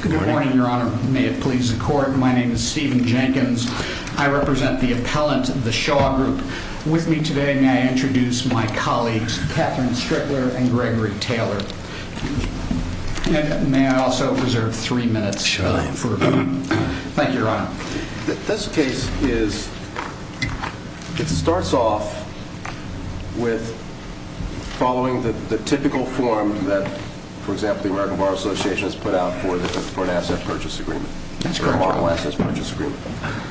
Good morning, Your Honor. May it please the Court, my name is Stephen Jenkins. I represent the appellant, the Shaw Group. With me today, may I introduce my colleagues, Katherine Strickler and Gregory Taylor. And may I also reserve three minutes for a moment. Thank you, Your Honor. It starts off with following the typical form that, for example, the American Bar Association has put out for an asset purchase agreement.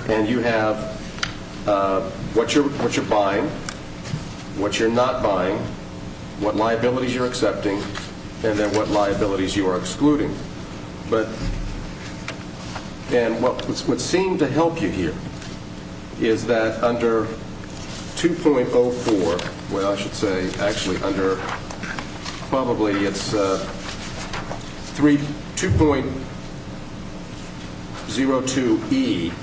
And you have what you're buying, what you're not buying, what liabilities you're accepting, and then what liabilities you are excluding. And what would seem to help you here is that under 2.04, well, I should say actually under probably it's 2.02E,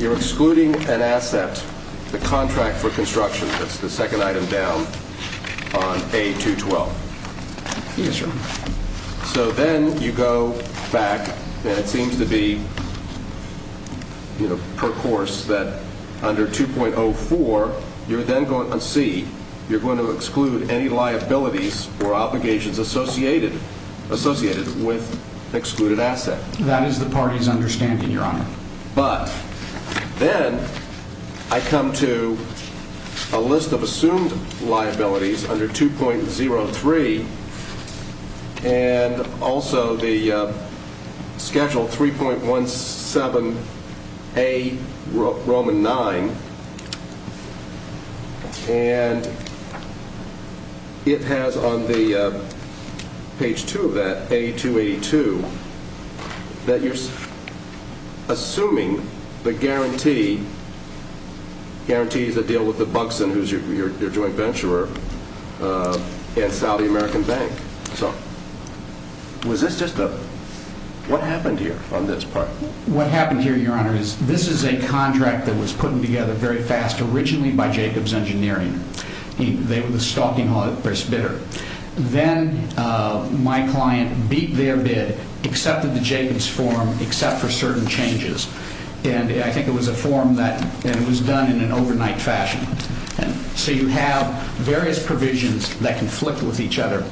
you're excluding an asset, the contract for construction, that's the And then you go back, and it seems to be, you know, per course, that under 2.04, you're then going to see, you're going to exclude any liabilities or obligations associated with excluded asset. That is the party's understanding, Your Honor. But then I come to a list of also the Schedule 3.17A, Roman 9, and it has on the page 2 of that, 8282, that you're assuming the guarantee, guarantee is a deal with the Buxton, who's your joint venturer, and Saudi American Bank. So was this just a, what happened here on this part? What happened here, Your Honor, is this is a contract that was putting together very fast originally by Jacobs Engineering. They were the stalking bidder. Then my client beat their bid, accepted the Jacobs form, except for certain changes. And I think it was a And so you have various provisions that conflict with each other.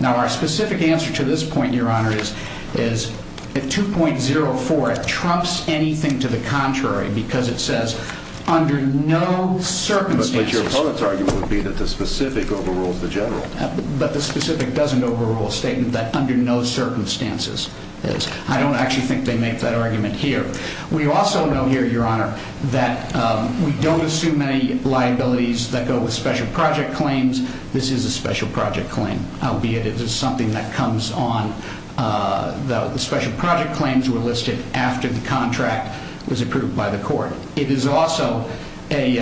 Now, our specific answer to this point, Your Honor, is, is at 2.04, it trumps anything to the contrary because it says under no circumstances. But your opponent's argument would be that the specific overrules the general. But the specific doesn't overrule a statement that under no circumstances is. I don't actually think they make that argument here. We also know here, Your Honor, that we don't assume any liabilities that go with special project claims. This is a special project claim, albeit it is something that comes on. The special project claims were listed after the contract was approved by the court. It is also a,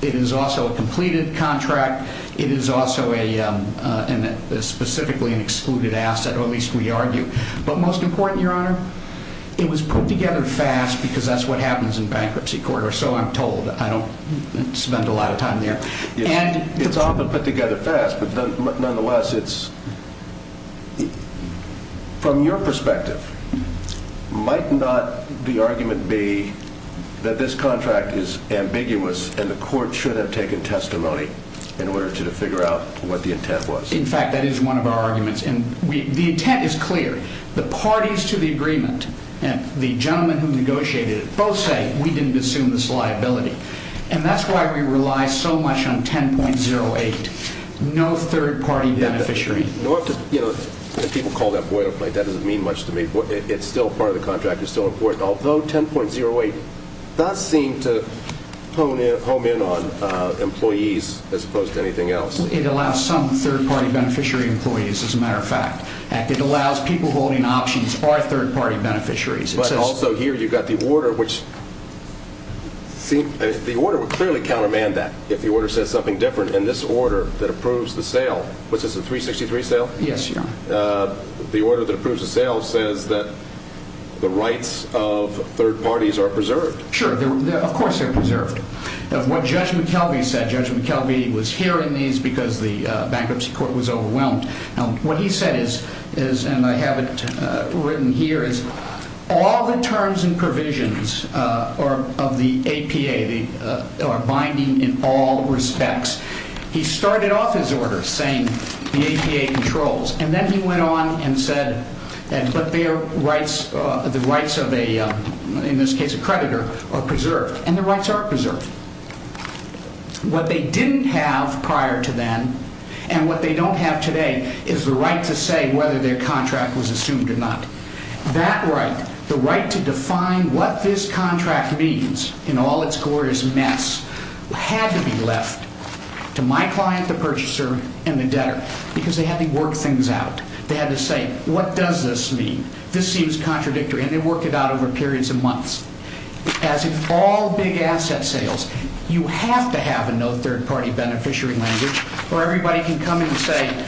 it is also a completed contract. It is also a, a specifically an excluded asset, or at least we argue. But most important, Your Honor, it was put together fast because that's what happens in bankruptcy court, or so I'm told. I don't spend a lot of time there. And it's often put together fast, but nonetheless, it's, from your perspective, might not the argument be that this contract is ambiguous and the court should have taken testimony in order to figure out what the intent was? In fact, that is one of our arguments. And we, the intent is clear. The parties to the agreement and the gentleman who negotiated it both say, we didn't assume this liability. And that's why we rely so much on 10.08, no third-party beneficiary. You know, if people call that boilerplate, that doesn't mean much to me. It's still part of the contract. It's still important. Although 10.08 does seem to hone in, home in on employees as opposed to anything else. It allows some third-party beneficiary employees, as a matter of fact. It allows people holding options or third-party beneficiaries. But also here, you've got the order, which seems, the order would clearly countermand that if the order says something different. And this order that approves the sale, which is a 363 sale. The order that approves the sale says that the rights of third parties are preserved. Sure. Of course they're preserved. What Judge McKelvey said, Judge McKelvey was hearing these because the bankruptcy court was overwhelmed. Now, what he said is, is, and I have it written here, is all the terms and provisions of the APA are binding in all respects. He started off his order saying the APA controls, and then he went on and said that their rights, the rights of a, in this case, a creditor are preserved and the rights are preserved. What they didn't have prior to then, and what they don't have today, is the right to say whether their contract was assumed or not. That right, the right to define what this contract means in all its glorious mess, had to be left to my client, the purchaser, and the debtor, because they had to work things out. They had to say, what does this mean? This seems contradictory. And they worked it out over periods of months. As in all big set sales, you have to have a no third-party beneficiary language, or everybody can come and say,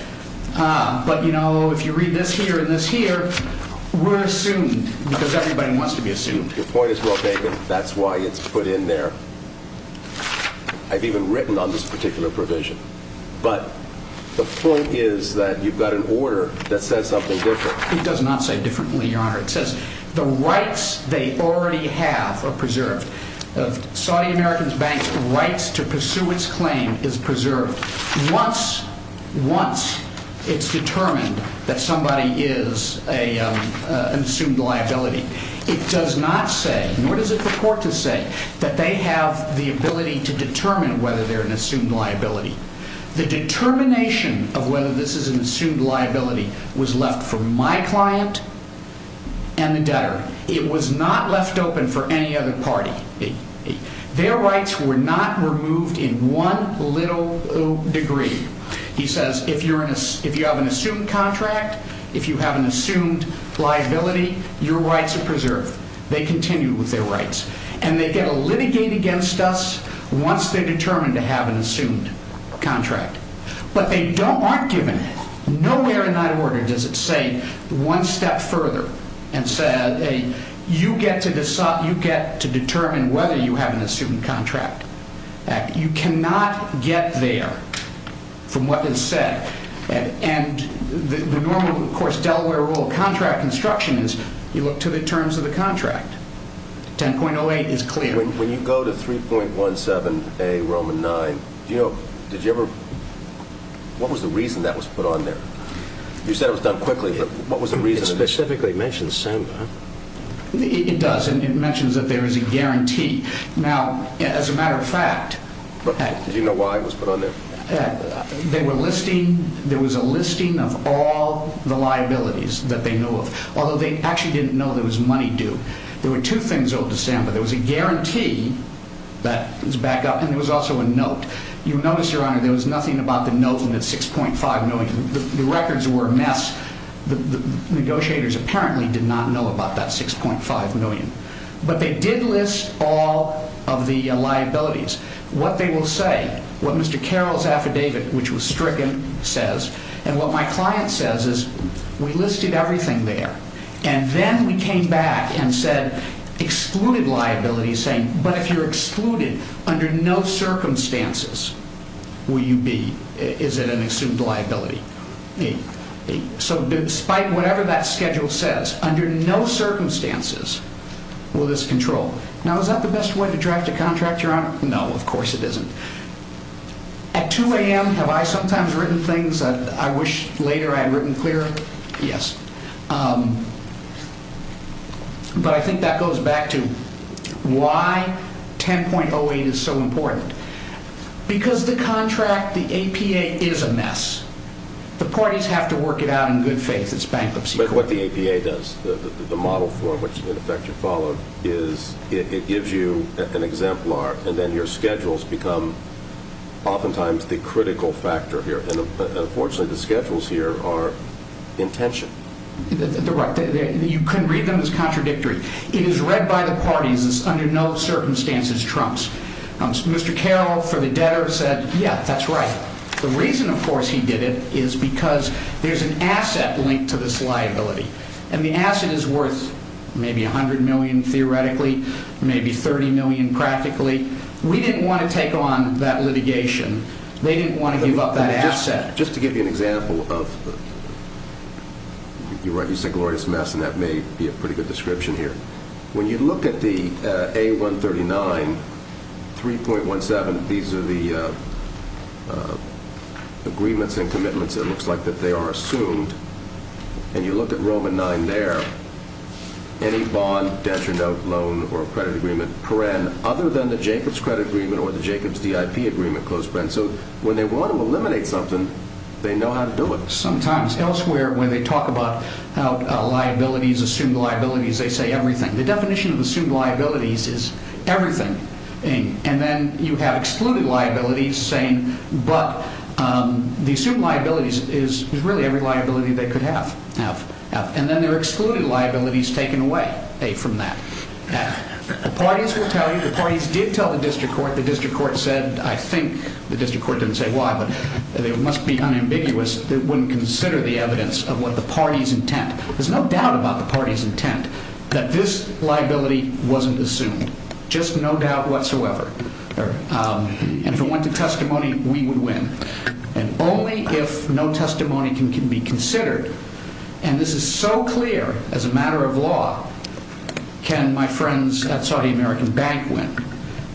but you know, if you read this here and this here, we're assumed, because everybody wants to be assumed. Your point is well taken. That's why it's put in there. I've even written on this particular provision. But the point is that you've got an order that says something different. It does not say differently, Your Honor. It says the rights they already have are preserved. Saudi American Bank's rights to pursue its claim is preserved once it's determined that somebody is an assumed liability. It does not say, nor does it purport to say, that they have the ability to determine whether they're an assumed liability. The determination of whether this is an assumed liability was left for my client and the debtor. It was not left open for any other party. Their rights were not removed in one little degree. He says, if you have an assumed contract, if you have an assumed liability, your rights are preserved. They continue with their rights. And they get to litigate against us once they're determined to have an assumed contract. But they aren't given it. Nowhere in that order does it say one step further and say, hey, you get to determine whether you have an assumed contract. You cannot get there from what is said. And the normal, of course, Delaware rule of contract construction is you look to the terms of the contract. 10.08 is clear. When you go to 3.17a Roman 9, did you ever... what was the reason that was put on there? You said it was done quickly, but what was the reason... It specifically mentions SAMBA, huh? It does. And it mentions that there is a guarantee. Now, as a matter of fact... Did you know why it was put on there? They were listing... there was a listing of all the liabilities that they know of, although they actually didn't know there was money due. There were two things owed to SAMBA. There was a guarantee that was backed up, and there was also a note. You notice, Your Honor, the records were a mess. The negotiators apparently did not know about that 6.5 million. But they did list all of the liabilities. What they will say, what Mr. Carroll's affidavit, which was stricken, says, and what my client says is, we listed everything there. And then we came back and said, excluded liabilities, saying, but if you're excluded under no circumstances, will you be... is it an assumed liability? So, despite whatever that schedule says, under no circumstances will this control. Now, is that the best way to draft a contract, Your Honor? No, of course it isn't. At 2 a.m., have I sometimes written things that I wish later I had written clearer? Yes. But I think that goes back to why 10.08 is so important. Because the contract, the APA, is a mess. The parties have to work it out in good faith. It's bankruptcy court. But what the APA does, the model form, which, in effect, you follow, it gives you an exemplar, and then your schedules become oftentimes the critical factor here. And unfortunately, the schedules here are in tension. They're right. You couldn't read them as contradictory. It is read by the parties as under no circumstances trumps. Mr. Carroll, for the debtor, said, yeah, that's right. The reason, of course, he did it is because there's an asset linked to this liability. And the asset is worth maybe $100 million, theoretically, maybe $30 million, practically. We didn't want to take on that litigation. They didn't want to give up that asset. But just to give you an example of... you're right, you said glorious mess, and that may be a pretty good description here. When you look at the A139, 3.17, these are the agreements and commitments, it looks like, that they are assumed. And you look at Roman 9 there, any bond, debt, or note, loan, or credit agreement, paren, other than the Jacobs credit agreement or the Jacobs DIP agreement, close paren. So when they want to eliminate something, they know how to do it. Sometimes. Elsewhere, when they talk about liabilities, assumed liabilities, they say everything. The definition of assumed liabilities is everything. And then you have excluded liabilities saying, but the assumed liabilities is really every liability they could have. And then there are excluded liabilities taken away from that. The parties will tell you, the parties did tell the district court, the district court said, I think, the district court didn't say why, but it must be unambiguous, they wouldn't consider the evidence of what the party's intent. There's no doubt about the party's intent that this liability wasn't assumed. Just no doubt whatsoever. And if it went to testimony, we would win. And only if no testimony can be considered, and this is so clear as a matter of law, can my friends at Saudi American Bank win.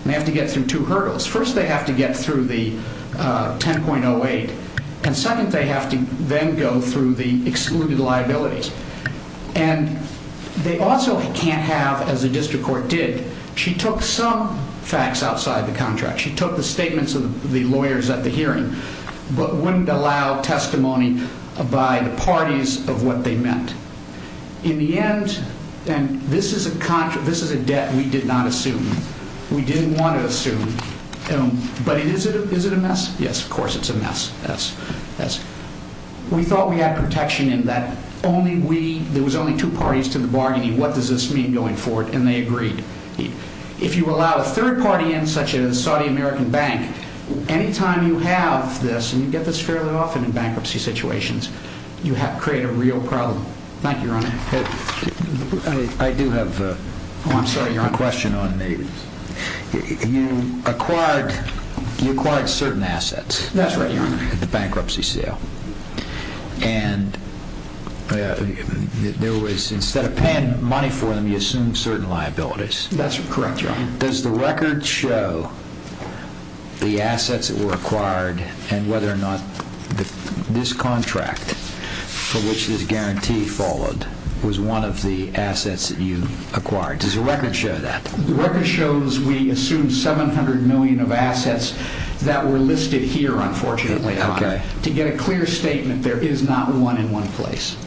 They have to get through two hurdles. First, they have to get through the 10.08. And second, they have to then go through the excluded liabilities. And they also can't have, as the district court did, she took some facts outside the contract. She took the statements of the lawyers at the hearing, but wouldn't allow testimony by the parties of what they meant. In the end, and this is a contract, this is a debt that we did not assume. We didn't want to assume. But is it a mess? Yes, of course it's a mess. We thought we had protection in that only we, there was only two parties to the bargaining, what does this mean going forward? And they agreed. If you allow a third party in, such as Saudi American Bank, anytime you have this, and you get this fairly often in bankruptcy situations, you create a real problem. Thank you, Your Honor. I do have a question on the, you acquired certain assets. That's right, Your Honor. At the bankruptcy sale. And there was, instead of paying money for them, you assumed certain liabilities. That's correct, Your Honor. Does the record show the assets that were acquired and whether or not this contract for which this guarantee followed was one of the assets that you acquired? Does the record show that? The record shows we assumed 700 million of assets that were listed here, unfortunately, Your Honor. Okay. To get a clear statement, there is not one in one place.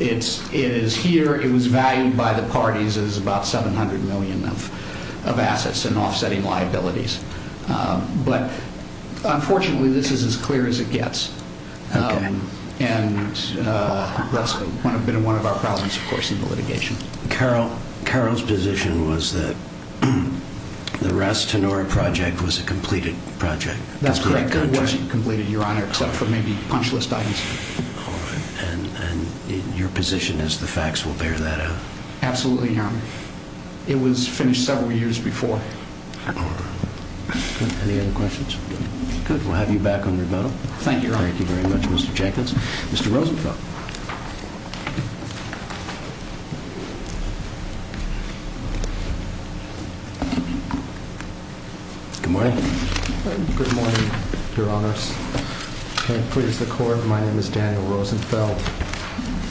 It is here, it was valued by the parties as about 700 million of assets and offsetting liabilities. But unfortunately this is as clear as it gets. And that's been one of our problems, of course, in the litigation. Carol's position was that the Ras Tanura project was a completed project. That's correct. It was completed, Your Honor, except for maybe punch list items. All right. And your position is the facts will bear that out? Absolutely, Your Honor. It was finished several years before. Any other questions? Good. We'll have you back on your medal. Thank you, Your Honor. Thank you very much, Mr. Jenkins. Mr. Rosenfeld. Good morning. Good morning, Your Honors. May it please the Court, my name is Daniel Rosenfeld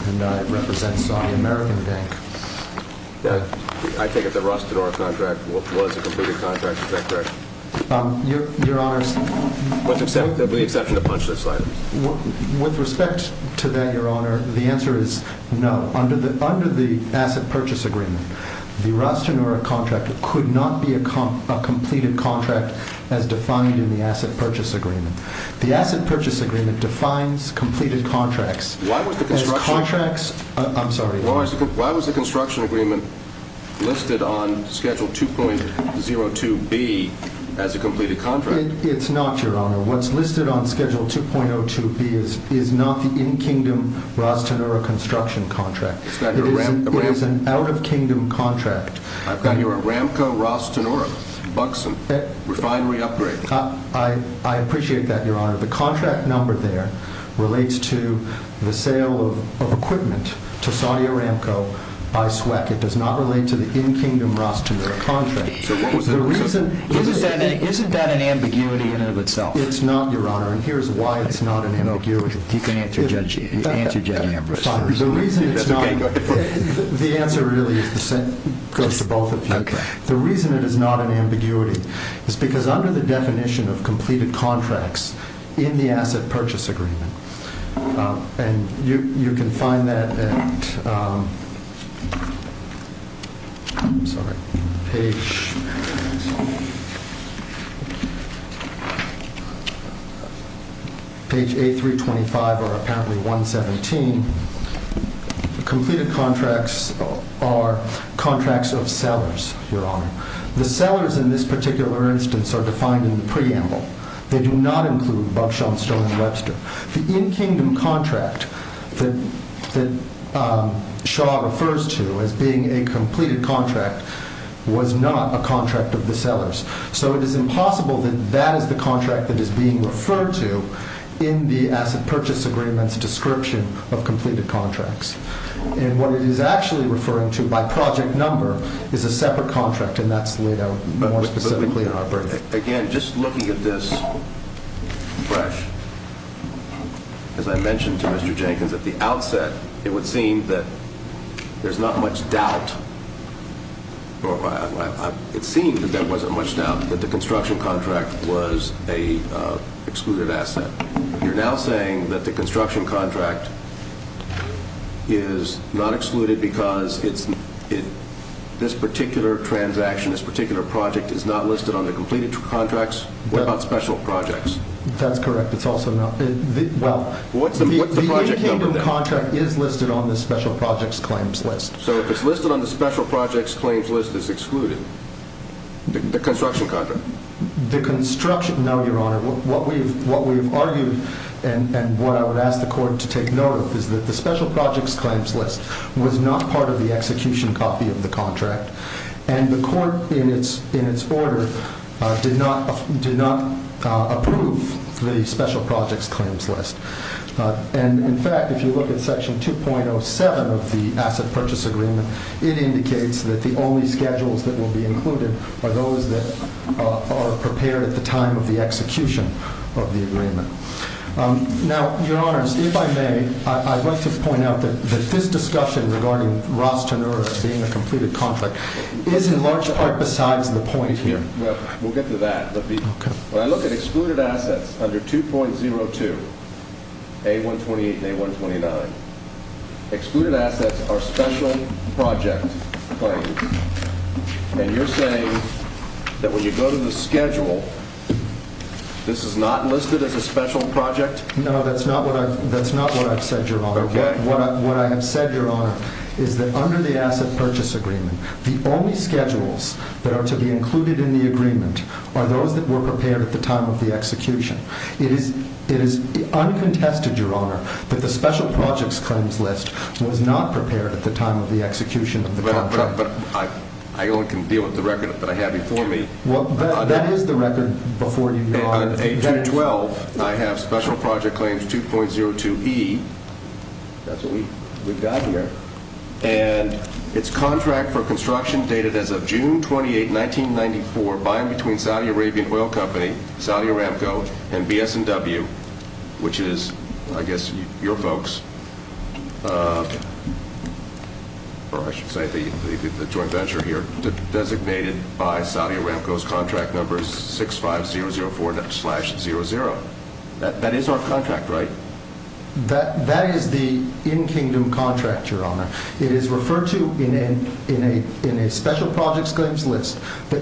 and I represent Saudi American Bank. I take it the Ras Tanura contract was a completed contract. Is that correct? Your Honors. With the exception of punch list items. With respect to that, Your Honor, the answer is no. Under the asset purchase agreement, the Ras Tanura contract could not be a completed contract as defined in the asset purchase agreement. The asset purchase agreement defines completed contracts. Why was the construction? I'm sorry. Why was the construction agreement listed on Schedule 2.02B as a completed contract? It's not, Your Honor. What's listed on Schedule 2.02B is not the in-kingdom Ras Tanura construction contract. It is an out-of-kingdom contract. I've got here a Ramco Ras Tanura, Buxom, refinery upgrade. I appreciate that, Your Honor. The contract number there relates to the sale of equipment to Saudi Aramco by SWEC. It does not relate to the in-kingdom Ras Tanura contract. Isn't that an ambiguity in and of itself? It's not, Your Honor, and here's why it's not an ambiguity. You can answer, Judge Ambrose. The reason it's not, the answer really goes to both of you. The reason it is not an ambiguity is because under the definition of completed contracts in the asset purchase agreement, and you can find that at page A325 or apparently 117, completed contracts are contracts of sellers, Your Honor. The sellers in this particular instance are defined in the preamble. They do not include Buxom, Stone and Webster. The in-kingdom contract that Shaw refers to as being a completed contract was not a contract of the sellers. So it is impossible that that is the contract that is being referred to in the asset purchase agreement's description of completed contracts. And what it is actually referring to by project number is a separate contract, and that's laid out more specifically in our brief. Again, just looking at this fresh, as I mentioned to Mr. Jenkins at the outset, it would seem that there's not much doubt, or it seemed that there wasn't much doubt that the construction contract was an excluded asset. You're now saying that the construction contract is not excluded because this particular transaction, this particular project, is not listed on the completed contracts? What about special projects? That's correct. It's also not. Well, the in-kingdom contract is listed on the special projects claims list. So if it's listed on the special projects claims list, it's excluded? The construction contract? No, Your Honor. What we've argued and what I would ask the court to take note of is that the special projects claims list was not part of the execution copy of the contract, and the court in its order did not approve the special projects claims list. And, in fact, if you look at Section 2.07 of the asset purchase agreement, it indicates that the only schedules that will be included are those that are prepared at the time of the execution of the agreement. Now, Your Honor, if I may, I'd like to point out that this discussion regarding Ross Tannura being a completed contract is in large part besides the point here. We'll get to that. When I look at excluded assets under 2.02, A-128 and A-129, excluded assets are special project claims. And you're saying that when you go to the schedule, this is not listed as a special project? No, that's not what I've said, Your Honor. What I have said, Your Honor, is that under the asset purchase agreement, the only schedules that are to be included in the agreement are those that were prepared at the time of the execution. It is uncontested, Your Honor, that the special projects claims list was not prepared at the time of the execution of the contract. But I only can deal with the record that I have before me. Well, that is the record before you, Your Honor. Under A-212, I have special project claims 2.02E. That's what we've got here. And it's contract for construction dated as of June 28, 1994, buying between Saudi Arabian Oil Company, Saudi Aramco, and BS&W, which is, I guess, your folks, or I should say the joint venture here, designated by Saudi Aramco's contract number 65004-00. That is our contract, right? That is the in-kingdom contract, Your Honor. It is referred to in a special projects claims list So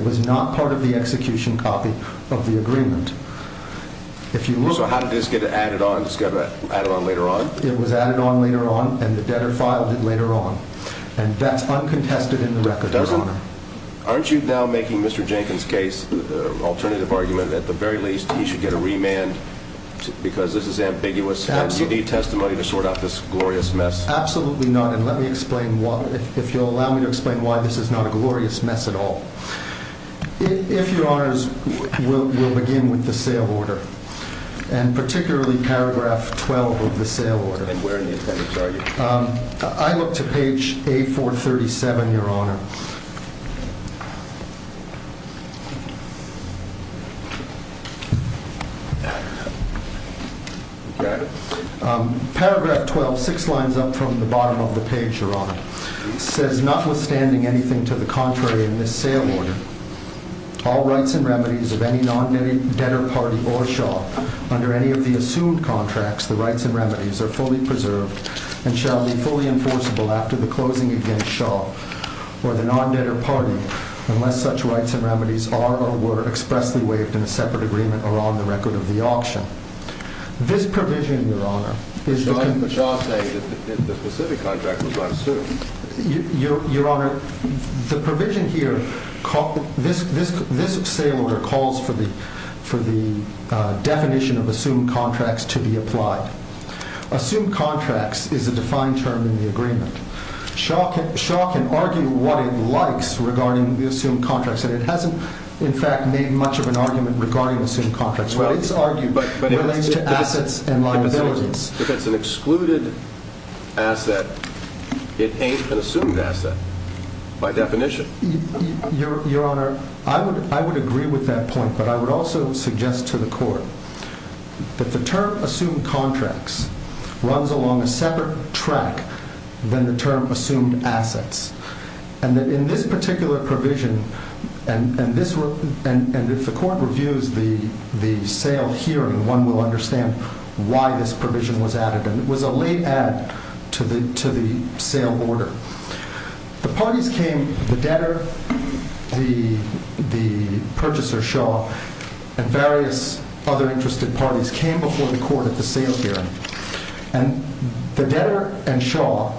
how did this get added on? It got added on later on? It was added on later on, and the debtor filed it later on. And that's uncontested in the record, Your Honor. Aren't you now making Mr. Jenkins' case an alternative argument that at the very least he should get a remand because this is ambiguous and you need testimony to sort out this glorious mess? Absolutely not, and let me explain why, if you'll allow me to explain why this is not a glorious mess at all. If Your Honors, we'll begin with the sale order, and particularly paragraph 12 of the sale order. And where in the appendix are you? I look to page A437, Your Honor. Paragraph 12, six lines up from the bottom of the page, Your Honor, says notwithstanding anything to the contrary in this sale order, This provision, Your Honor, Your Honor, the provision here, this sale order calls for the definition of assumed contracts to be applied. Assumed contracts is a defined term in the agreement. Shaw can argue what it likes regarding the assumed contracts, and it hasn't, in fact, made much of an argument regarding assumed contracts. Well, it's argued relating to assets and liabilities. If it's an excluded asset, it ain't an assumed asset by definition. Your Honor, I would agree with that point, but I would also suggest to the Court that the term assumed contracts runs along a separate track than the term assumed assets, and that in this particular provision, and if the Court reviews the sale hearing, one will understand why this provision was added, and it was a late add to the sale order. The parties came, the debtor, the purchaser, Shaw, and various other interested parties came before the Court at the sale hearing, and the debtor and Shaw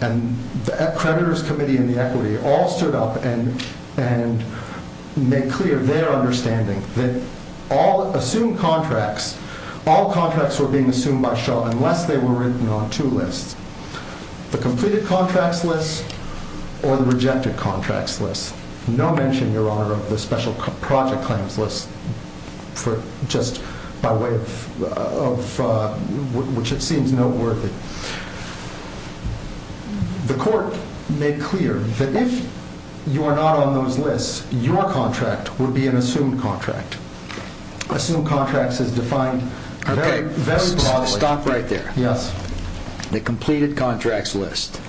and the Accreditors Committee and the Equity all stood up and made clear their understanding that all assumed contracts, all contracts were being assumed by Shaw unless they were written on two lists, the completed contracts list or the rejected contracts list. No mention, Your Honor, of the special project claims list just by way of which it seems noteworthy. The Court made clear that if you are not on those lists, your contract would be an assumed contract. Assumed contracts is defined very broadly. Stop right there. The completed contracts list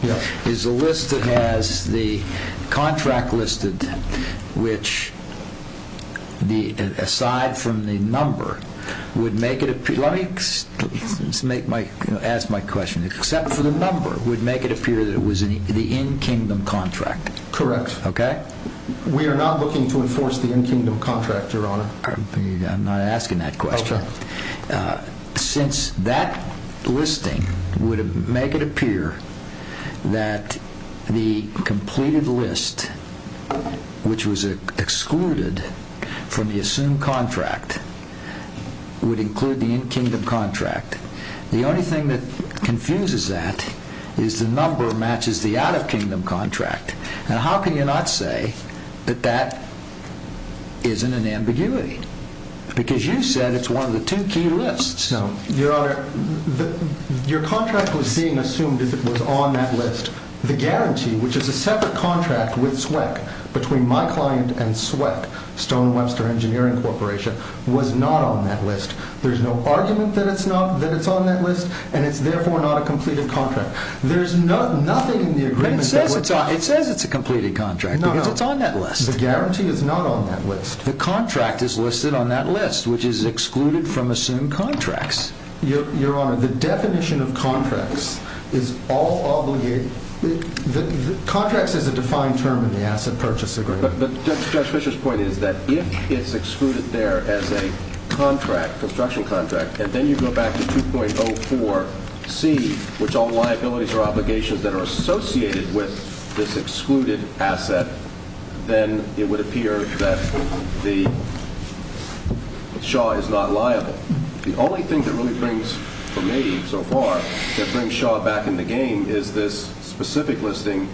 is a list that has the contract listed which aside from the number would make it appear, let me ask my question, except for the number would make it appear that it was the in-kingdom contract. Correct. We are not looking to enforce the in-kingdom contract, Your Honor. I'm not asking that question. Since that listing would make it appear that the completed list which was excluded from the assumed contract would include the in-kingdom contract, the only thing that confuses that is the number matches the out-of-kingdom contract. How can you not say that that isn't an ambiguity? Because you said it's one of the two key lists. Your Honor, your contract was being assumed as if it was on that list. The guarantee, which is a separate contract with SWEC, between my client and SWEC, Stone Webster Engineering Corporation, was not on that list. There's no argument that it's on that list and it's therefore not a completed contract. It says it's a completed contract because it's on that list. The guarantee is not on that list. The contract is listed on that list, which is excluded from assumed contracts. Your Honor, the definition of contracts is all obligated. Contracts is a defined term in the asset purchase agreement. But Judge Fischer's point is that if it's excluded there as a construction contract and then you go back to 2.04C, which all liabilities are obligations that are associated with this excluded asset, then it would appear that Shaw is not liable. The only thing that really brings, for me, so far, that brings Shaw back in the game is this specific listing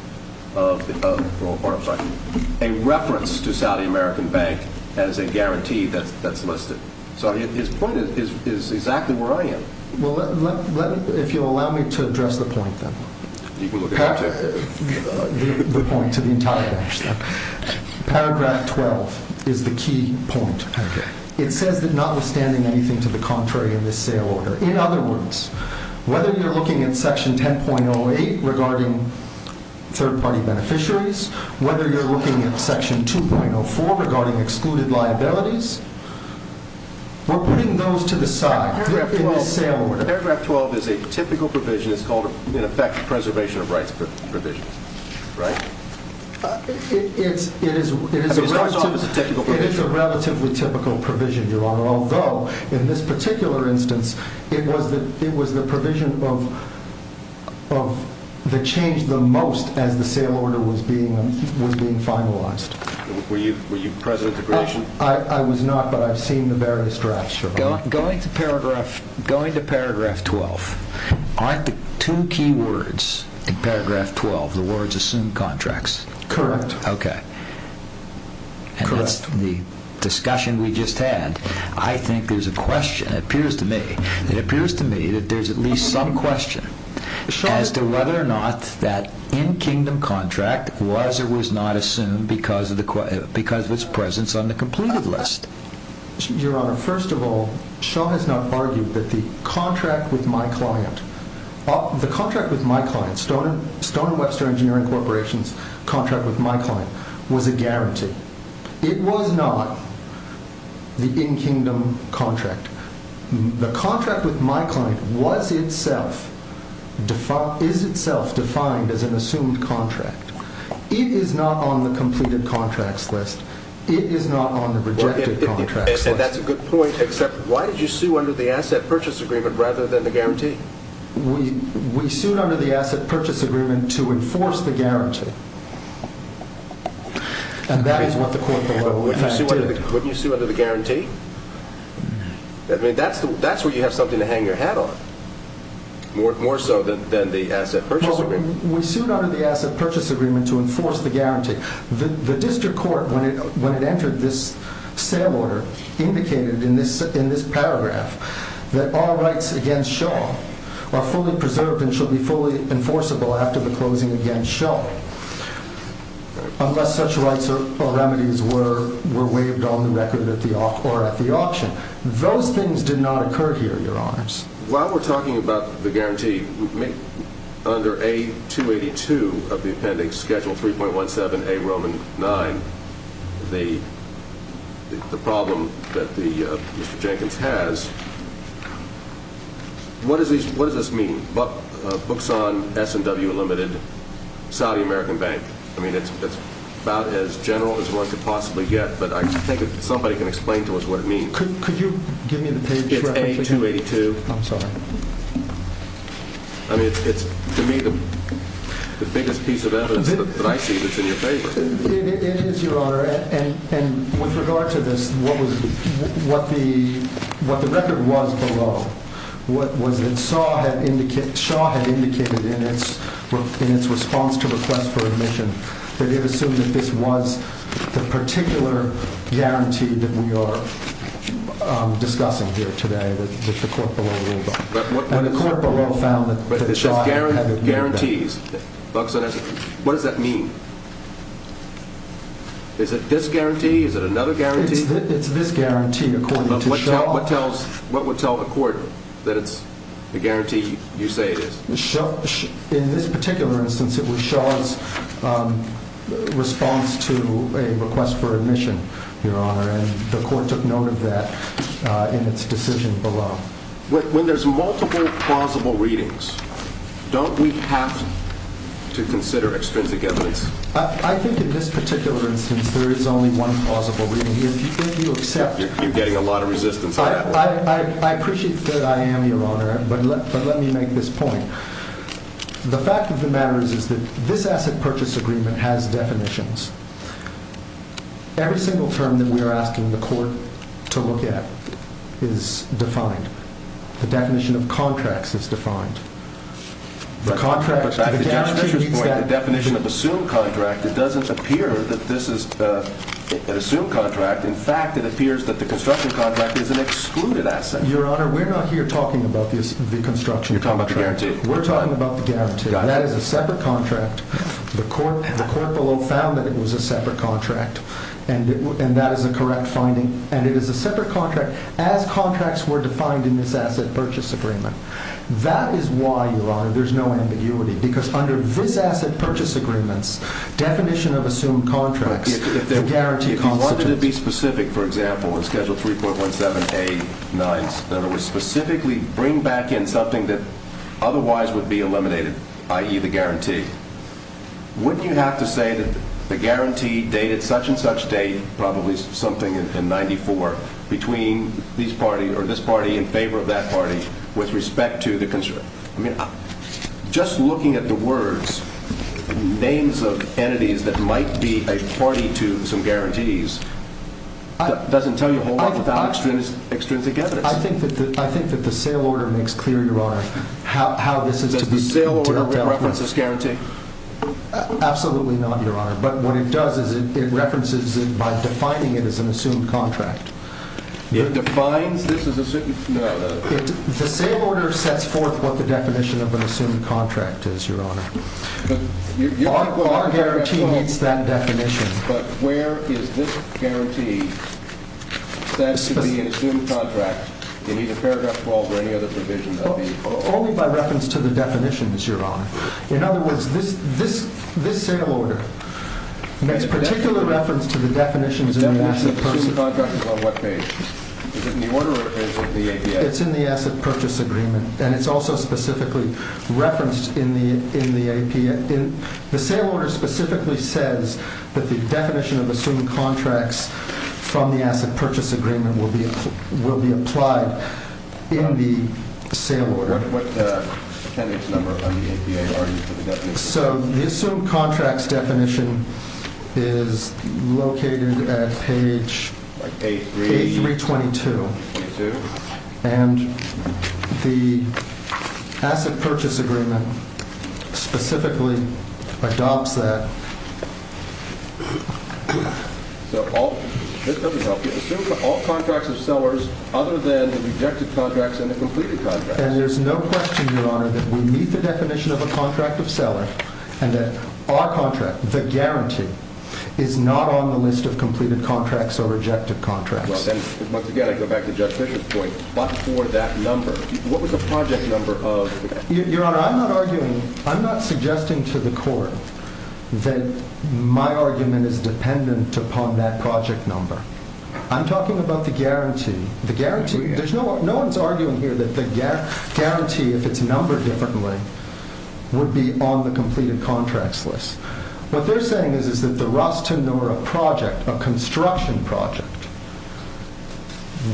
of a reference to Saudi American Bank as a guarantee that's listed. So his point is exactly where I am. Well, if you'll allow me to address the point, then. You can look at it. The point to the entire bench, then. Paragraph 12 is the key point. It says that notwithstanding anything to the contrary in this sale order, in other words, whether you're looking at Section 10.08 regarding third-party beneficiaries, whether you're looking at Section 2.04 regarding excluded liabilities, we're putting those to the side in this sale order. Paragraph 12 is a typical provision. It's called, in effect, preservation of rights provisions, right? It is a relatively typical provision, Your Honor, although in this particular instance it was the provision of the change the most as the sale order was being finalized. Were you present at the creation? I was not, but I've seen the various drafts, Your Honor. Going to paragraph 12, aren't the two key words in paragraph 12 the words assume contracts? Correct. Okay. And that's the discussion we just had. I think there's a question, it appears to me, it appears to me that there's at least some question as to whether or not that in-kingdom contract was or was not assumed because of its presence on the completed list. Your Honor, first of all, Shaw has not argued that the contract with my client, the contract with my client, Stone and Webster Engineering Corporation's contract with my client, was a guarantee. It was not the in-kingdom contract. The contract with my client was itself, is itself defined as an assumed contract. It is not on the completed contracts list. It is not on the rejected contracts list. That's a good point, except why did you sue under the asset purchase agreement rather than the guarantee? We sued under the asset purchase agreement to enforce the guarantee. And that is what the court below in fact did. Wouldn't you sue under the guarantee? I mean, that's where you have something to hang your hat on, more so than the asset purchase agreement. We sued under the asset purchase agreement to enforce the guarantee. The district court, when it entered this sale order, indicated in this paragraph that all rights against Shaw are fully preserved and should be fully enforceable after the closing against Shaw unless such rights or remedies were waived on the record or at the auction. Those things did not occur here, Your Honors. While we're talking about the guarantee, under A282 of the appendix, Schedule 3.17A, Roman 9, the problem that Mr. Jenkins has, what does this mean? It's the Buckson S&W Limited Saudi American Bank. I mean, it's about as general as one could possibly get, but I think somebody can explain to us what it means. Could you give me the page? It's A282. I'm sorry. I mean, it's to me the biggest piece of evidence that I see that's in your favor. It is, Your Honor. And with regard to this, what the record was below, what Shaw had indicated in its response to request for admission, that it assumed that this was the particular guarantee that we are discussing here today, that the court below ruled on. And the court below found that Shaw had ignored that. But it says guarantees, Buckson S&W. What does that mean? Is it this guarantee? Is it another guarantee? It's this guarantee according to Shaw. What would tell the court that it's the guarantee you say it is? In this particular instance, it was Shaw's response to a request for admission, Your Honor, and the court took note of that in its decision below. When there's multiple plausible readings, don't we have to consider extrinsic evidence? I think in this particular instance there is only one plausible reading. You're getting a lot of resistance on that one. I appreciate that I am, Your Honor, but let me make this point. The fact of the matter is that this asset purchase agreement has definitions. Every single term that we are asking the court to look at is defined. The definition of contracts is defined. The definition of assumed contract, it doesn't appear that this is an assumed contract. In fact, it appears that the construction contract is an excluded asset. Your Honor, we're not here talking about the construction contract. We're talking about the guarantee. That is a separate contract. The court below found that it was a separate contract, and that is a correct finding. And it is a separate contract as contracts were defined in this asset purchase agreement. That is why, Your Honor, there's no ambiguity. Because under this asset purchase agreement's definition of assumed contracts, the guarantee constitutes. If you wanted to be specific, for example, in Schedule 3.17A-9, that it would specifically bring back in something that otherwise would be eliminated, i.e., the guarantee, wouldn't you have to say that the guarantee dated such-and-such date, probably something in 1994, between this party or this party in favor of that party with respect to the construction? I mean, just looking at the words, names of entities that might be a party to some guarantees, doesn't tell you a whole lot about extrinsic evidence. I think that the sale order makes clear, Your Honor, how this is to be dealt with. Does the sale order reference this guarantee? Absolutely not, Your Honor. But what it does is it references it by defining it as an assumed contract. It defines this as assumed? No, no. The sale order sets forth what the definition of an assumed contract is, Your Honor. Our guarantee meets that definition. But where is this guarantee that it should be an assumed contract? Do you need a paragraph 12 or any other provision? Only by reference to the definition, Your Honor. In other words, this sale order makes particular reference to the definitions in the asset purchase agreement. The definition of assumed contract is on what page? Is it in the order or is it the APA? It's in the asset purchase agreement, and it's also specifically referenced in the APA. The sale order specifically says that the definition of assumed contracts from the asset purchase agreement will be applied in the sale order. What attendance number on the APA are you for the definition? So the assumed contracts definition is located at page 322. And the asset purchase agreement specifically adopts that. So this doesn't help you. Assume all contracts of sellers other than the rejected contracts and the completed contracts. And there's no question, Your Honor, that we meet the definition of a contract of seller and that our contract, the guarantee, is not on the list of completed contracts or rejected contracts. Well, then, once again, I go back to Judge Fischer's point. But for that number, what was the project number of the contract? Your Honor, I'm not arguing, I'm not suggesting to the Court that my argument is dependent upon that project number. I'm talking about the guarantee. The guarantee? No one's arguing here that the guarantee, if it's numbered differently, would be on the completed contracts list. What they're saying is that the Rastanura project, a construction project,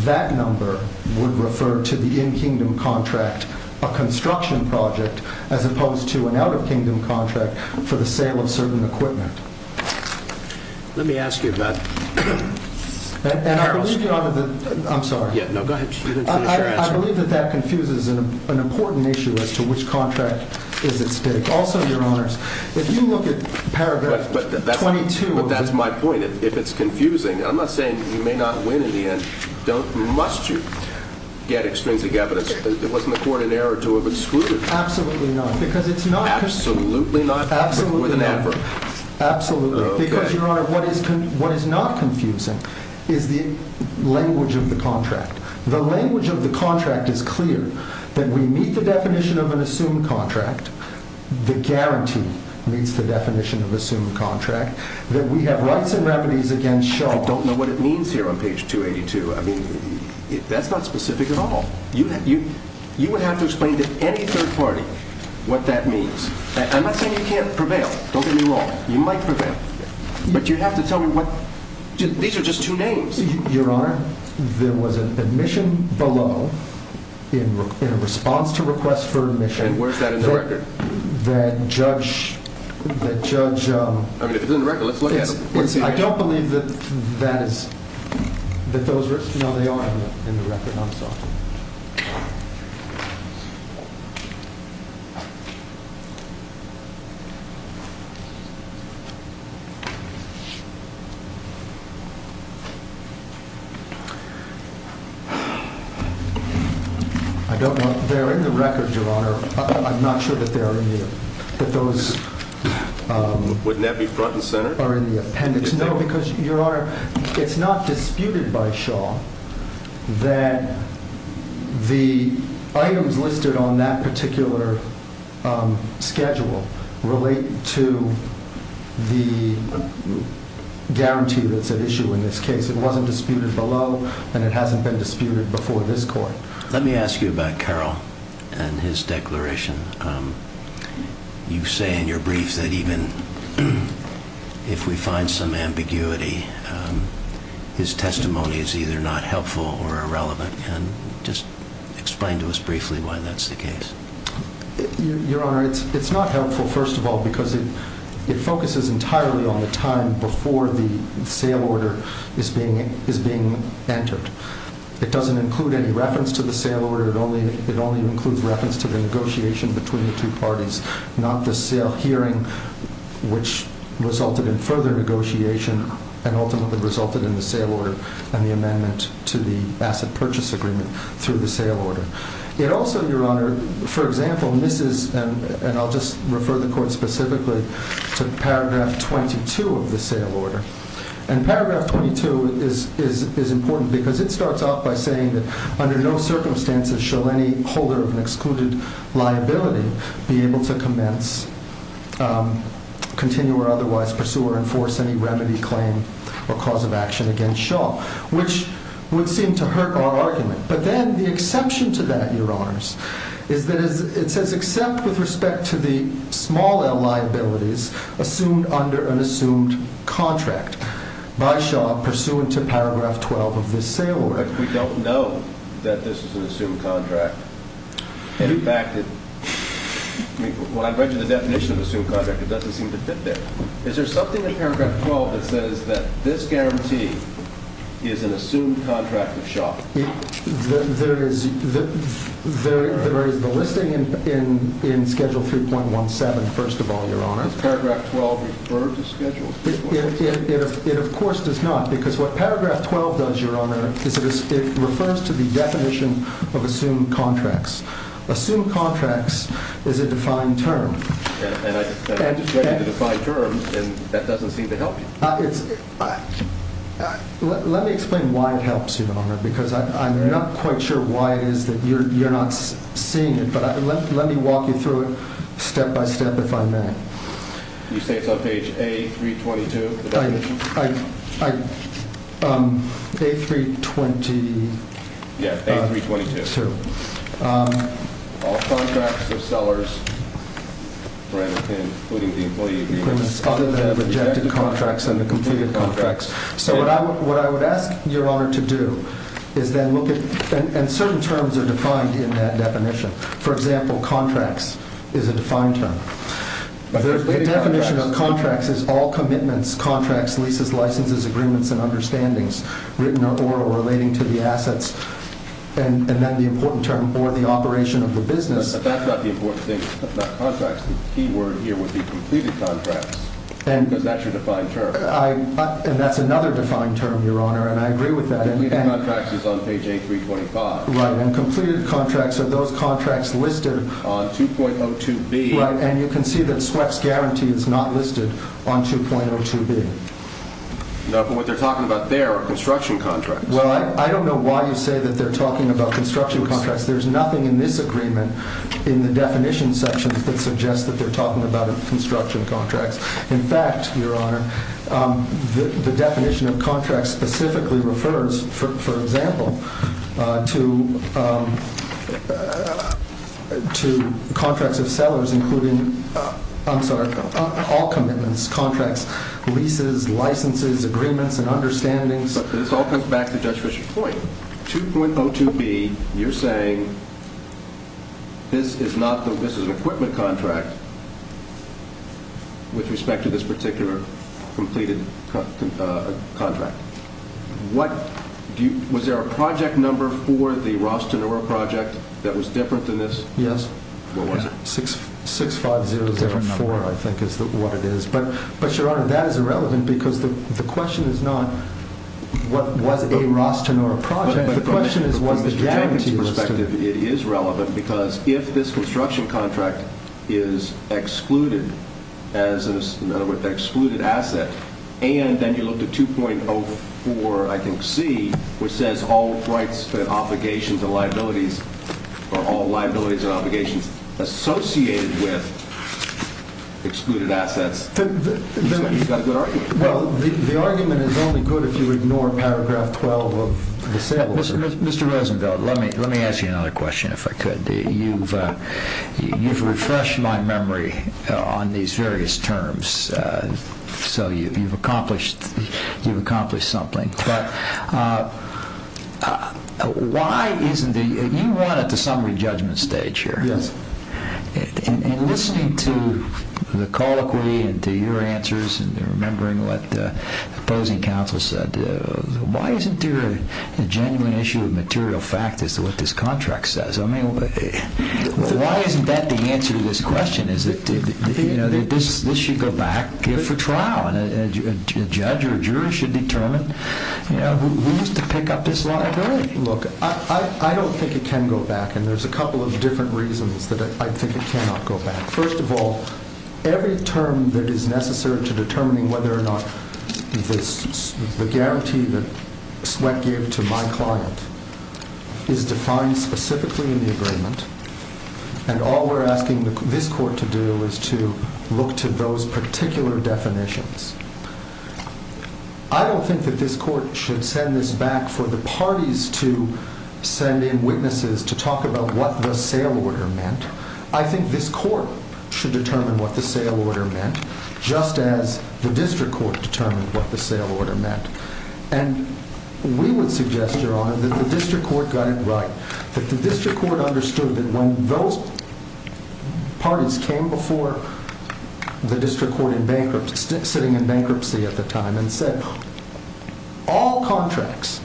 that number would refer to the in-kingdom contract, a construction project, as opposed to an out-of-kingdom contract for the sale of certain equipment. Let me ask you about that. I'm sorry. No, go ahead. You didn't finish your answer. I believe that that confuses an important issue as to which contract is at stake. Also, Your Honors, if you look at paragraph 22… But that's my point. If it's confusing, I'm not saying you may not win in the end. Don't must you get extrinsic evidence. It wasn't the court in error to have excluded. Absolutely not. Because it's not… Absolutely not? Absolutely not. More than ever. Absolutely. Because, Your Honor, what is not confusing… …is the language of the contract. The language of the contract is clear. That we meet the definition of an assumed contract. The guarantee meets the definition of assumed contract. That we have rights and remedies against shells. I don't know what it means here on page 282. I mean, that's not specific at all. You would have to explain to any third party what that means. I'm not saying you can't prevail. Don't get me wrong. You might prevail. But you have to tell me what… These are just two names. Your Honor, there was an admission below in response to request for admission… And where's that in the record? …that Judge… I mean, if it's in the record, let's look at it. I don't believe that that is… No, they are in the record. I'm sorry. I don't want… They're in the record, Your Honor. I'm not sure that they're in the… That those… Wouldn't that be front and center? …are in the appendix. No, because, Your Honor, it's not disputed by Shaw… That the items listed on that particular schedule relate to the guarantee that's at issue in this case. It wasn't disputed below, and it hasn't been disputed before this court. Let me ask you about Carroll and his declaration. You say in your brief that even if we find some ambiguity, his testimony is either not helpful or irrelevant. And just explain to us briefly why that's the case. Your Honor, it's not helpful, first of all, because it focuses entirely on the time before the sale order is being entered. It doesn't include any reference to the sale order. It only includes reference to the negotiation between the two parties, not the sale hearing, which resulted in further negotiation and ultimately resulted in the sale order and the amendment to the asset purchase agreement through the sale order. It also, Your Honor, for example, misses, and I'll just refer the court specifically to paragraph 22 of the sale order. And paragraph 22 is important because it starts off by saying that under no circumstances shall any holder of an excluded liability be able to commence, continue, or otherwise pursue or enforce any remedy, claim, or cause of action against Shaw, which would seem to hurt our argument. But then the exception to that, Your Honors, is that it says except with respect to the small liabilities assumed under an assumed contract by Shaw pursuant to paragraph 12 of this sale order. But we don't know that this is an assumed contract. In fact, when I read you the definition of assumed contract, it doesn't seem to fit there. Is there something in paragraph 12 that says that this guarantee is an assumed contract of Shaw? There is the listing in schedule 3.17, first of all, Your Honor. Does paragraph 12 refer to schedule 3.17? It, of course, does not because what paragraph 12 does, Your Honor, is it refers to the definition of assumed contracts. Assumed contracts is a defined term. And I just read you the defined term, and that doesn't seem to help you. Let me explain why it helps you, Your Honor, because I'm not quite sure why it is that you're not seeing it. But let me walk you through it step by step, if I may. You say it's on page A322? A320. Yeah, A322. All contracts of sellers, including the employee agreements, other than the rejected contracts and the completed contracts. So what I would ask Your Honor to do is then look at – and certain terms are defined in that definition. For example, contracts is a defined term. The definition of contracts is all commitments, contracts, leases, licenses, agreements, and understandings written or oral relating to the assets. And then the important term or the operation of the business. But that's not the important thing. If not contracts, the key word here would be completed contracts because that's your defined term. And that's another defined term, Your Honor, and I agree with that. Completed contracts is on page A325. Right, and completed contracts are those contracts listed on 2.02B. Right, and you can see that Swepp's guarantee is not listed on 2.02B. No, but what they're talking about there are construction contracts. Well, I don't know why you say that they're talking about construction contracts. There's nothing in this agreement in the definition section that suggests that they're talking about construction contracts. In fact, Your Honor, the definition of contracts specifically refers, for example, to contracts of sellers including – I'm sorry, all commitments, contracts, leases, licenses, agreements, and understandings. This all comes back to Judge Fischer's point. 2.02B, you're saying this is an equipment contract with respect to this particular completed contract. Was there a project number for the Ross-Denora project that was different than this? Yes. What was it? 65004, I think, is what it is. But, Your Honor, that is irrelevant because the question is not what was a Ross-Denora project. The question is what is the guarantee listed. From Mr. Jankin's perspective, it is relevant because if this construction contract is excluded as an excluded asset, and then you look at 2.04, I think, C, which says all rights, obligations, and liabilities are all liabilities and obligations associated with excluded assets. Well, the argument is only good if you ignore paragraph 12 of the sale order. Mr. Rosenfeld, let me ask you another question, if I could. You've refreshed my memory on these various terms, so you've accomplished something. But, you won at the summary judgment stage here. Yes. And listening to the colloquy and to your answers and remembering what the opposing counsel said, why isn't there a genuine issue of material fact as to what this contract says? I mean, why isn't that the answer to this question? This should go back for trial, and a judge or a jury should determine who is to pick up this liability. Look, I don't think it can go back, and there's a couple of different reasons that I think it cannot go back. First of all, every term that is necessary to determining whether or not the guarantee that Sweck gave to my client is defined specifically in the agreement, and all we're asking this court to do is to look to those particular definitions. I don't think that this court should send this back for the parties to send in witnesses to talk about what the sale order meant. I think this court should determine what the sale order meant, just as the district court determined what the sale order meant. And we would suggest, Your Honor, that the district court got it right, that the district court understood that when those parties came before the district court in bankruptcy, sitting in bankruptcy at the time, and said, All contracts,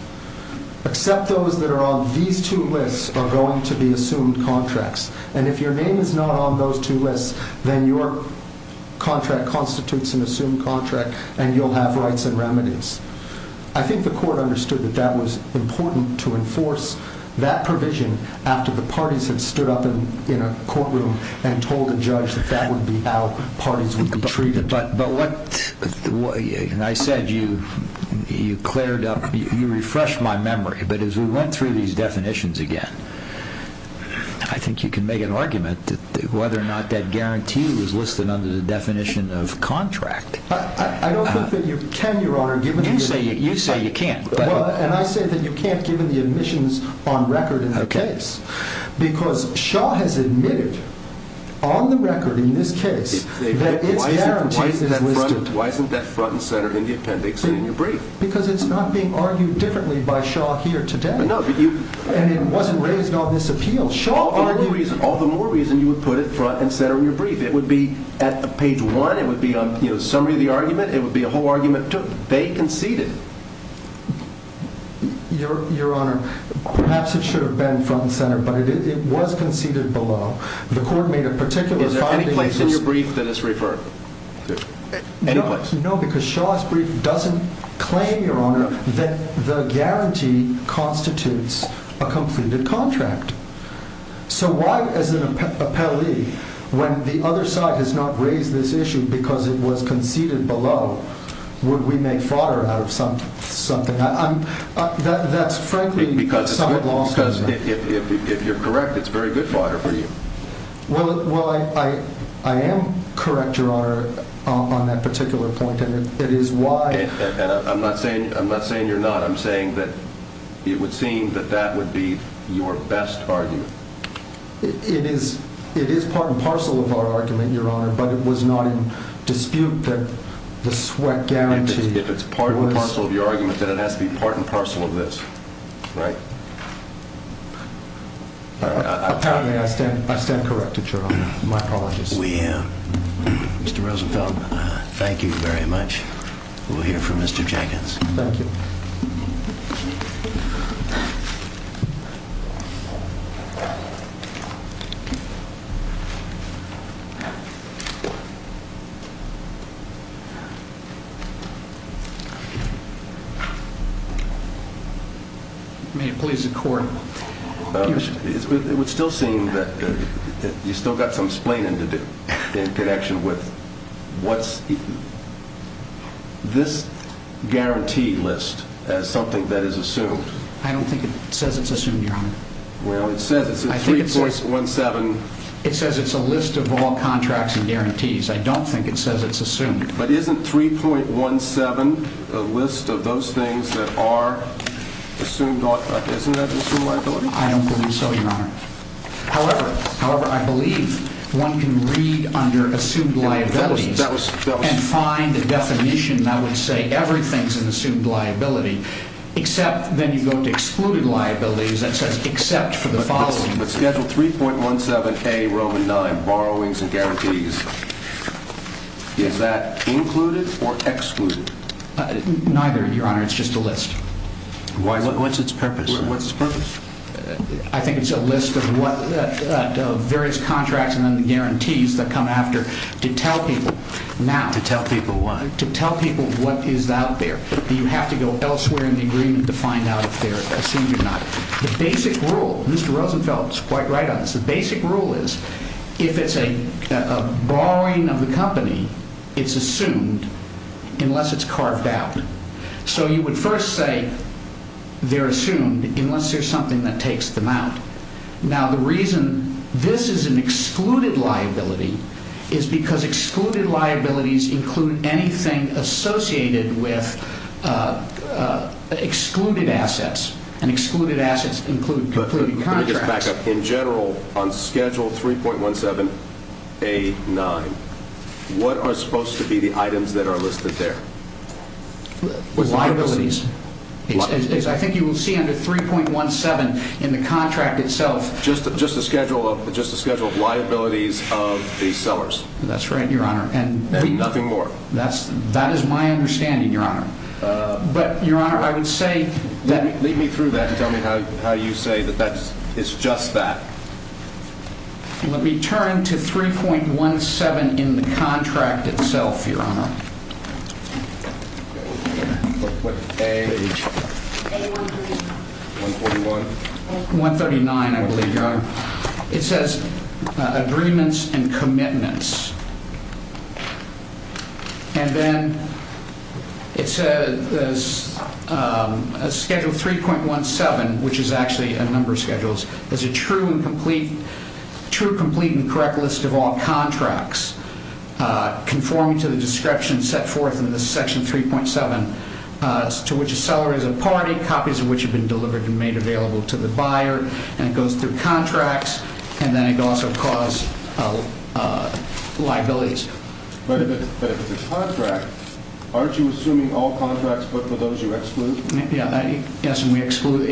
except those that are on these two lists, are going to be assumed contracts. And if your name is not on those two lists, then your contract constitutes an assumed contract, and you'll have rights and remedies. I think the court understood that that was important to enforce that provision after the parties had stood up in a courtroom and told the judge that that would be how parties would be treated. I said you refreshed my memory, but as we went through these definitions again, I think you can make an argument that whether or not that guarantee was listed under the definition of contract. I don't think that you can, Your Honor. You say you can't. And I say that you can't, given the admissions on record in the case, because Shaw has admitted on the record in this case that its guarantees is listed. Why isn't that front and center in the appendix and in your brief? Because it's not being argued differently by Shaw here today. And it wasn't raised on this appeal. All the more reason you would put it front and center in your brief. It would be at page one. It would be a summary of the argument. It would be a whole argument. They conceded. Your Honor, perhaps it should have been front and center, but it was conceded below. The court made a particular finding. Is there any place in your brief that it's referred? No, because Shaw's brief doesn't claim, Your Honor, that the guarantee constitutes a completed contract. So why, as an appellee, when the other side has not raised this issue because it was conceded below, would we make fodder out of something? That's frankly a somewhat long statement. Because if you're correct, it's very good fodder for you. Well, I am correct, Your Honor, on that particular point. And I'm not saying you're not. I'm saying that it would seem that that would be your best argument. It is part and parcel of our argument, Your Honor, but it was not in dispute that the sweat guarantee was— If it's part and parcel of your argument, then it has to be part and parcel of this, right? Apparently, I stand corrected, Your Honor. My apologies. We am. Mr. Rosenfeld, thank you very much. We'll hear from Mr. Jenkins. Thank you. May it please the Court. It would still seem that you've still got some explaining to do in connection with what's—this guarantee list as something that is assumed. I don't think it says it's assumed, Your Honor. Well, it says it's a 3.17— It says it's a list of all contracts and guarantees. But isn't 3.17 a list of those things that are assumed—isn't that assumed liability? I don't believe so, Your Honor. However, I believe one can read under assumed liabilities and find the definition that would say everything's an assumed liability, except then you go to excluded liabilities that says except for the following. With Schedule 3.17a, Roman 9, borrowings and guarantees, is that included or excluded? Neither, Your Honor. It's just a list. Why? What's its purpose? What's its purpose? I think it's a list of what—of various contracts and then the guarantees that come after to tell people now. To tell people what? To tell people what is out there. You have to go elsewhere in the agreement to find out if they're assumed or not. The basic rule—Mr. Rosenfeld is quite right on this. The basic rule is if it's a borrowing of the company, it's assumed unless it's carved out. So you would first say they're assumed unless there's something that takes them out. Now, the reason this is an excluded liability is because excluded liabilities include anything associated with excluded assets, and excluded assets include concluded contracts. Let me just back up. In general, on Schedule 3.17a.9, what are supposed to be the items that are listed there? Liabilities. I think you will see under 3.17 in the contract itself— Just the schedule of liabilities of the sellers. That's right, Your Honor. And nothing more. That is my understanding, Your Honor. But, Your Honor, I would say— Lead me through that and tell me how you say that that's—it's just that. Let me turn to 3.17 in the contract itself, Your Honor. What page? Page 139. 131? 139, I believe, Your Honor. It says Agreements and Commitments. And then it says that Schedule 3.17, which is actually a number of schedules, is a true, complete, and correct list of all contracts conforming to the description set forth in Section 3.7, to which a seller is a party, copies of which have been delivered and made available to the buyer. And it goes through contracts, and then it also calls liabilities. But if it's a contract, aren't you assuming all contracts, but for those you exclude? Yes, we exclude.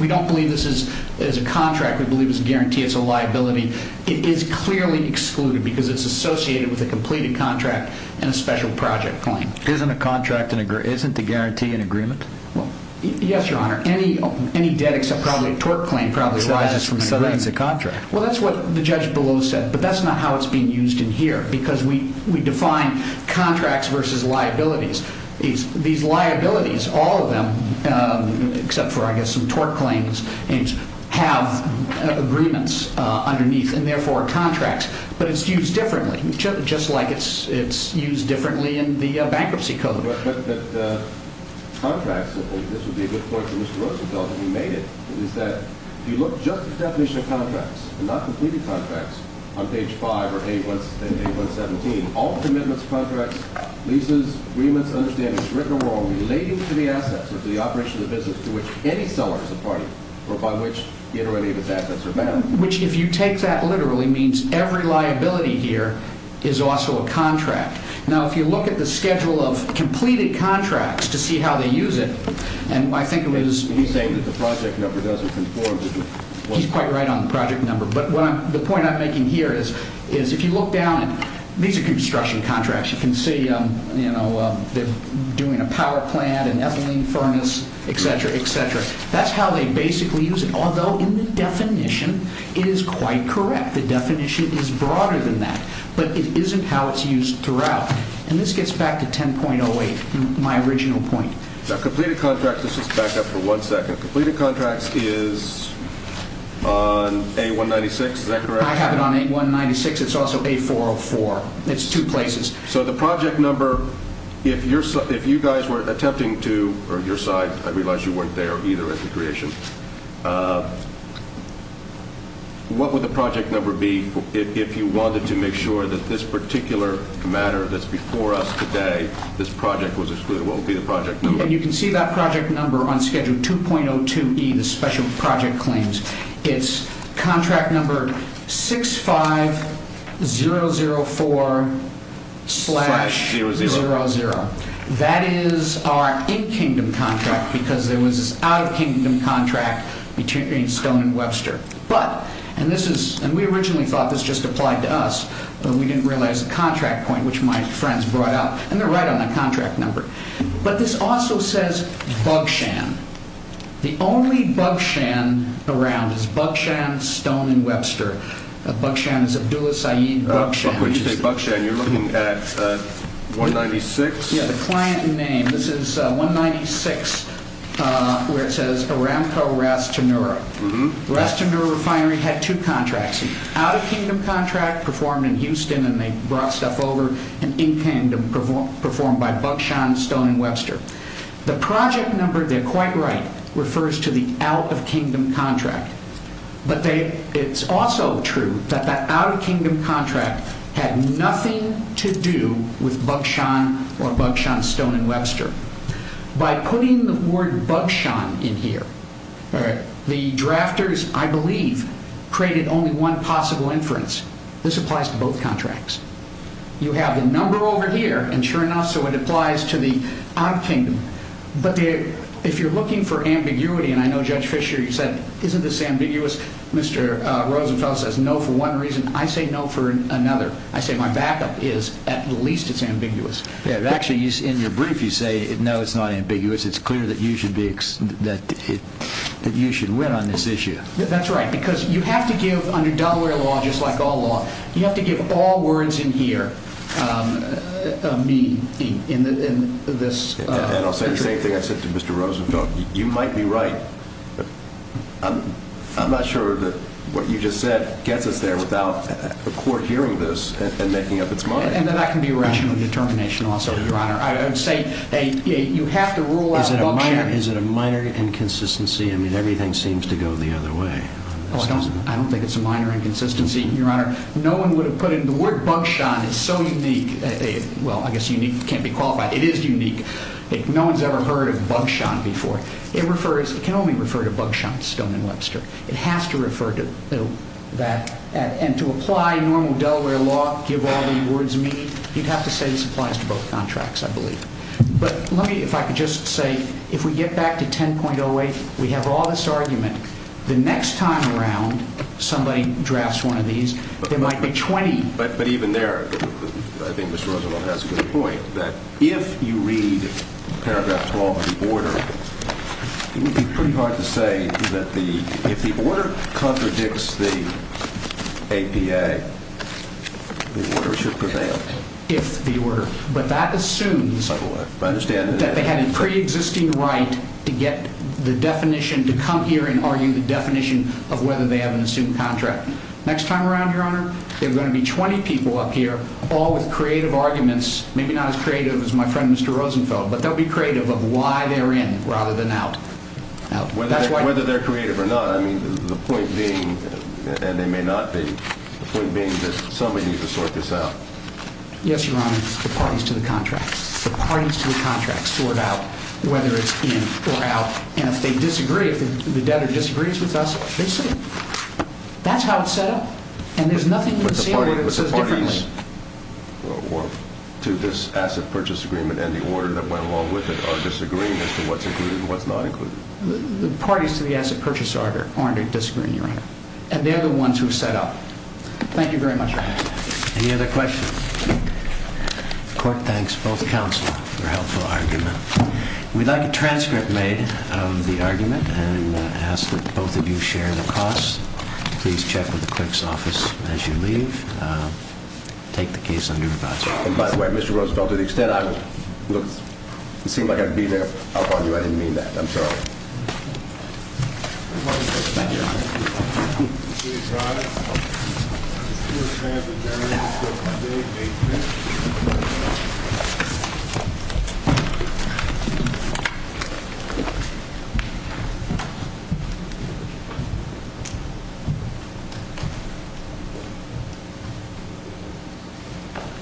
We don't believe this is a contract. We believe it's a guarantee. It's a liability. It is clearly excluded because it's associated with a completed contract and a special project claim. Isn't a contract—isn't a guarantee an agreement? Yes, Your Honor. Any debt, except probably a tort claim, probably arises from an agreement. So that's a contract. Well, that's what the judge below said, but that's not how it's being used in here because we define contracts versus liabilities. These liabilities, all of them, except for, I guess, some tort claims, have agreements underneath and, therefore, contracts. But it's used differently, just like it's used differently in the bankruptcy code. But contracts—this would be a good point for Mr. Roosevelt, if he made it— is that if you look just at the definition of contracts, and not completed contracts on page 5 or page 117, all commitments, contracts, leases, agreements, understandings, written or wrong, relating to the assets of the operation of the business to which any seller is a party or by which it or any of its assets are bound. Which, if you take that literally, means every liability here is also a contract. Now, if you look at the schedule of completed contracts to see how they use it, and I think it was— He's saying that the project number doesn't conform to the— He's quite right on the project number. But the point I'm making here is if you look down— These are construction contracts. You can see they're doing a power plant, an ethylene furnace, et cetera, et cetera. That's how they basically use it, although in the definition it is quite correct. The definition is broader than that. But it isn't how it's used throughout. And this gets back to 10.08, my original point. Now, completed contracts—let's just back up for one second. Completed contracts is on A196, is that correct? I have it on A196. It's also A404. It's two places. So the project number, if you guys were attempting to— or your side, I realize you weren't there either at the creation. What would the project number be if you wanted to make sure that this particular matter that's before us today, this project was excluded? What would be the project number? You can see that project number on Schedule 2.02E, the special project claims. It's contract number 65004-00. That is our in-kingdom contract because there was this out-of-kingdom contract between Stone and Webster. And we originally thought this just applied to us, but we didn't realize the contract point, which my friends brought up. And they're right on the contract number. But this also says Bugshan. The only Bugshan around is Bugshan, Stone, and Webster. Bugshan is Abdullah Saeed Bugshan. When you say Bugshan, you're looking at 196? Yeah, the client name. This is 196, where it says Aramco Ras Tanura. Ras Tanura Refinery had two contracts, an out-of-kingdom contract performed in Houston, and they brought stuff over, and in-kingdom performed by Bugshan, Stone, and Webster. The project number, they're quite right, refers to the out-of-kingdom contract. But it's also true that that out-of-kingdom contract had nothing to do with Bugshan or Bugshan, Stone, and Webster. By putting the word Bugshan in here, the drafters, I believe, created only one possible inference. This applies to both contracts. You have the number over here, and sure enough, so it applies to the out-of-kingdom. But if you're looking for ambiguity, and I know, Judge Fischer, you said, isn't this ambiguous? Mr. Rosenfeld says no for one reason. I say no for another. I say my backup is at least it's ambiguous. Actually, in your brief, you say, no, it's not ambiguous. It's clear that you should win on this issue. That's right, because you have to give, under Delaware law, just like all law, you have to give all words in here a meaning in this. And I'll say the same thing I said to Mr. Rosenfeld. You might be right. I'm not sure that what you just said gets us there without a court hearing this and making up its mind. And that can be a rational determination also, Your Honor. I would say you have to rule out Bugshan. Is it a minor inconsistency? I mean, everything seems to go the other way. I don't think it's a minor inconsistency, Your Honor. No one would have put in the word Bugshan. It's so unique. Well, I guess unique can't be qualified. It is unique. No one's ever heard of Bugshan before. It can only refer to Bugshan, Stone and Webster. It has to refer to that. And to apply normal Delaware law, give all the words a meaning, you'd have to say this applies to both contracts, I believe. But let me, if I could just say, if we get back to 10.08, we have all this argument. The next time around somebody drafts one of these, there might be 20. But even there, I think Mr. Rosenblum has a good point, that if you read paragraph 12 of the order, it would be pretty hard to say that if the order contradicts the APA, the order should prevail. But that assumes that they had a preexisting right to come here and argue the definition of whether they have an assumed contract. Next time around, Your Honor, there are going to be 20 people up here all with creative arguments, maybe not as creative as my friend Mr. Rosenfeld, but they'll be creative of why they're in rather than out. Whether they're creative or not, I mean, the point being, and they may not be, the point being that somebody needs to sort this out. Yes, Your Honor, the parties to the contracts. The parties to the contracts sort out whether it's in or out. And if they disagree, if the debtor disagrees with us, they say it. That's how it's set up. And there's nothing in the sale order that says differently. But the parties to this asset purchase agreement and the order that went along with it are disagreeing as to what's included and what's not included. The parties to the asset purchase order aren't disagreeing, Your Honor. And they're the ones who set up. Thank you very much, Your Honor. Any other questions? The court thanks both counsel for a helpful argument. We'd like a transcript made of the argument and ask that both of you share the cost. Please check with the clerk's office as you leave. Take the case under review. And by the way, Mr. Rosenfeld, to the extent I was looking, it seemed like I beat up on you. I didn't mean that. I'm sorry. Thank you. Please rise.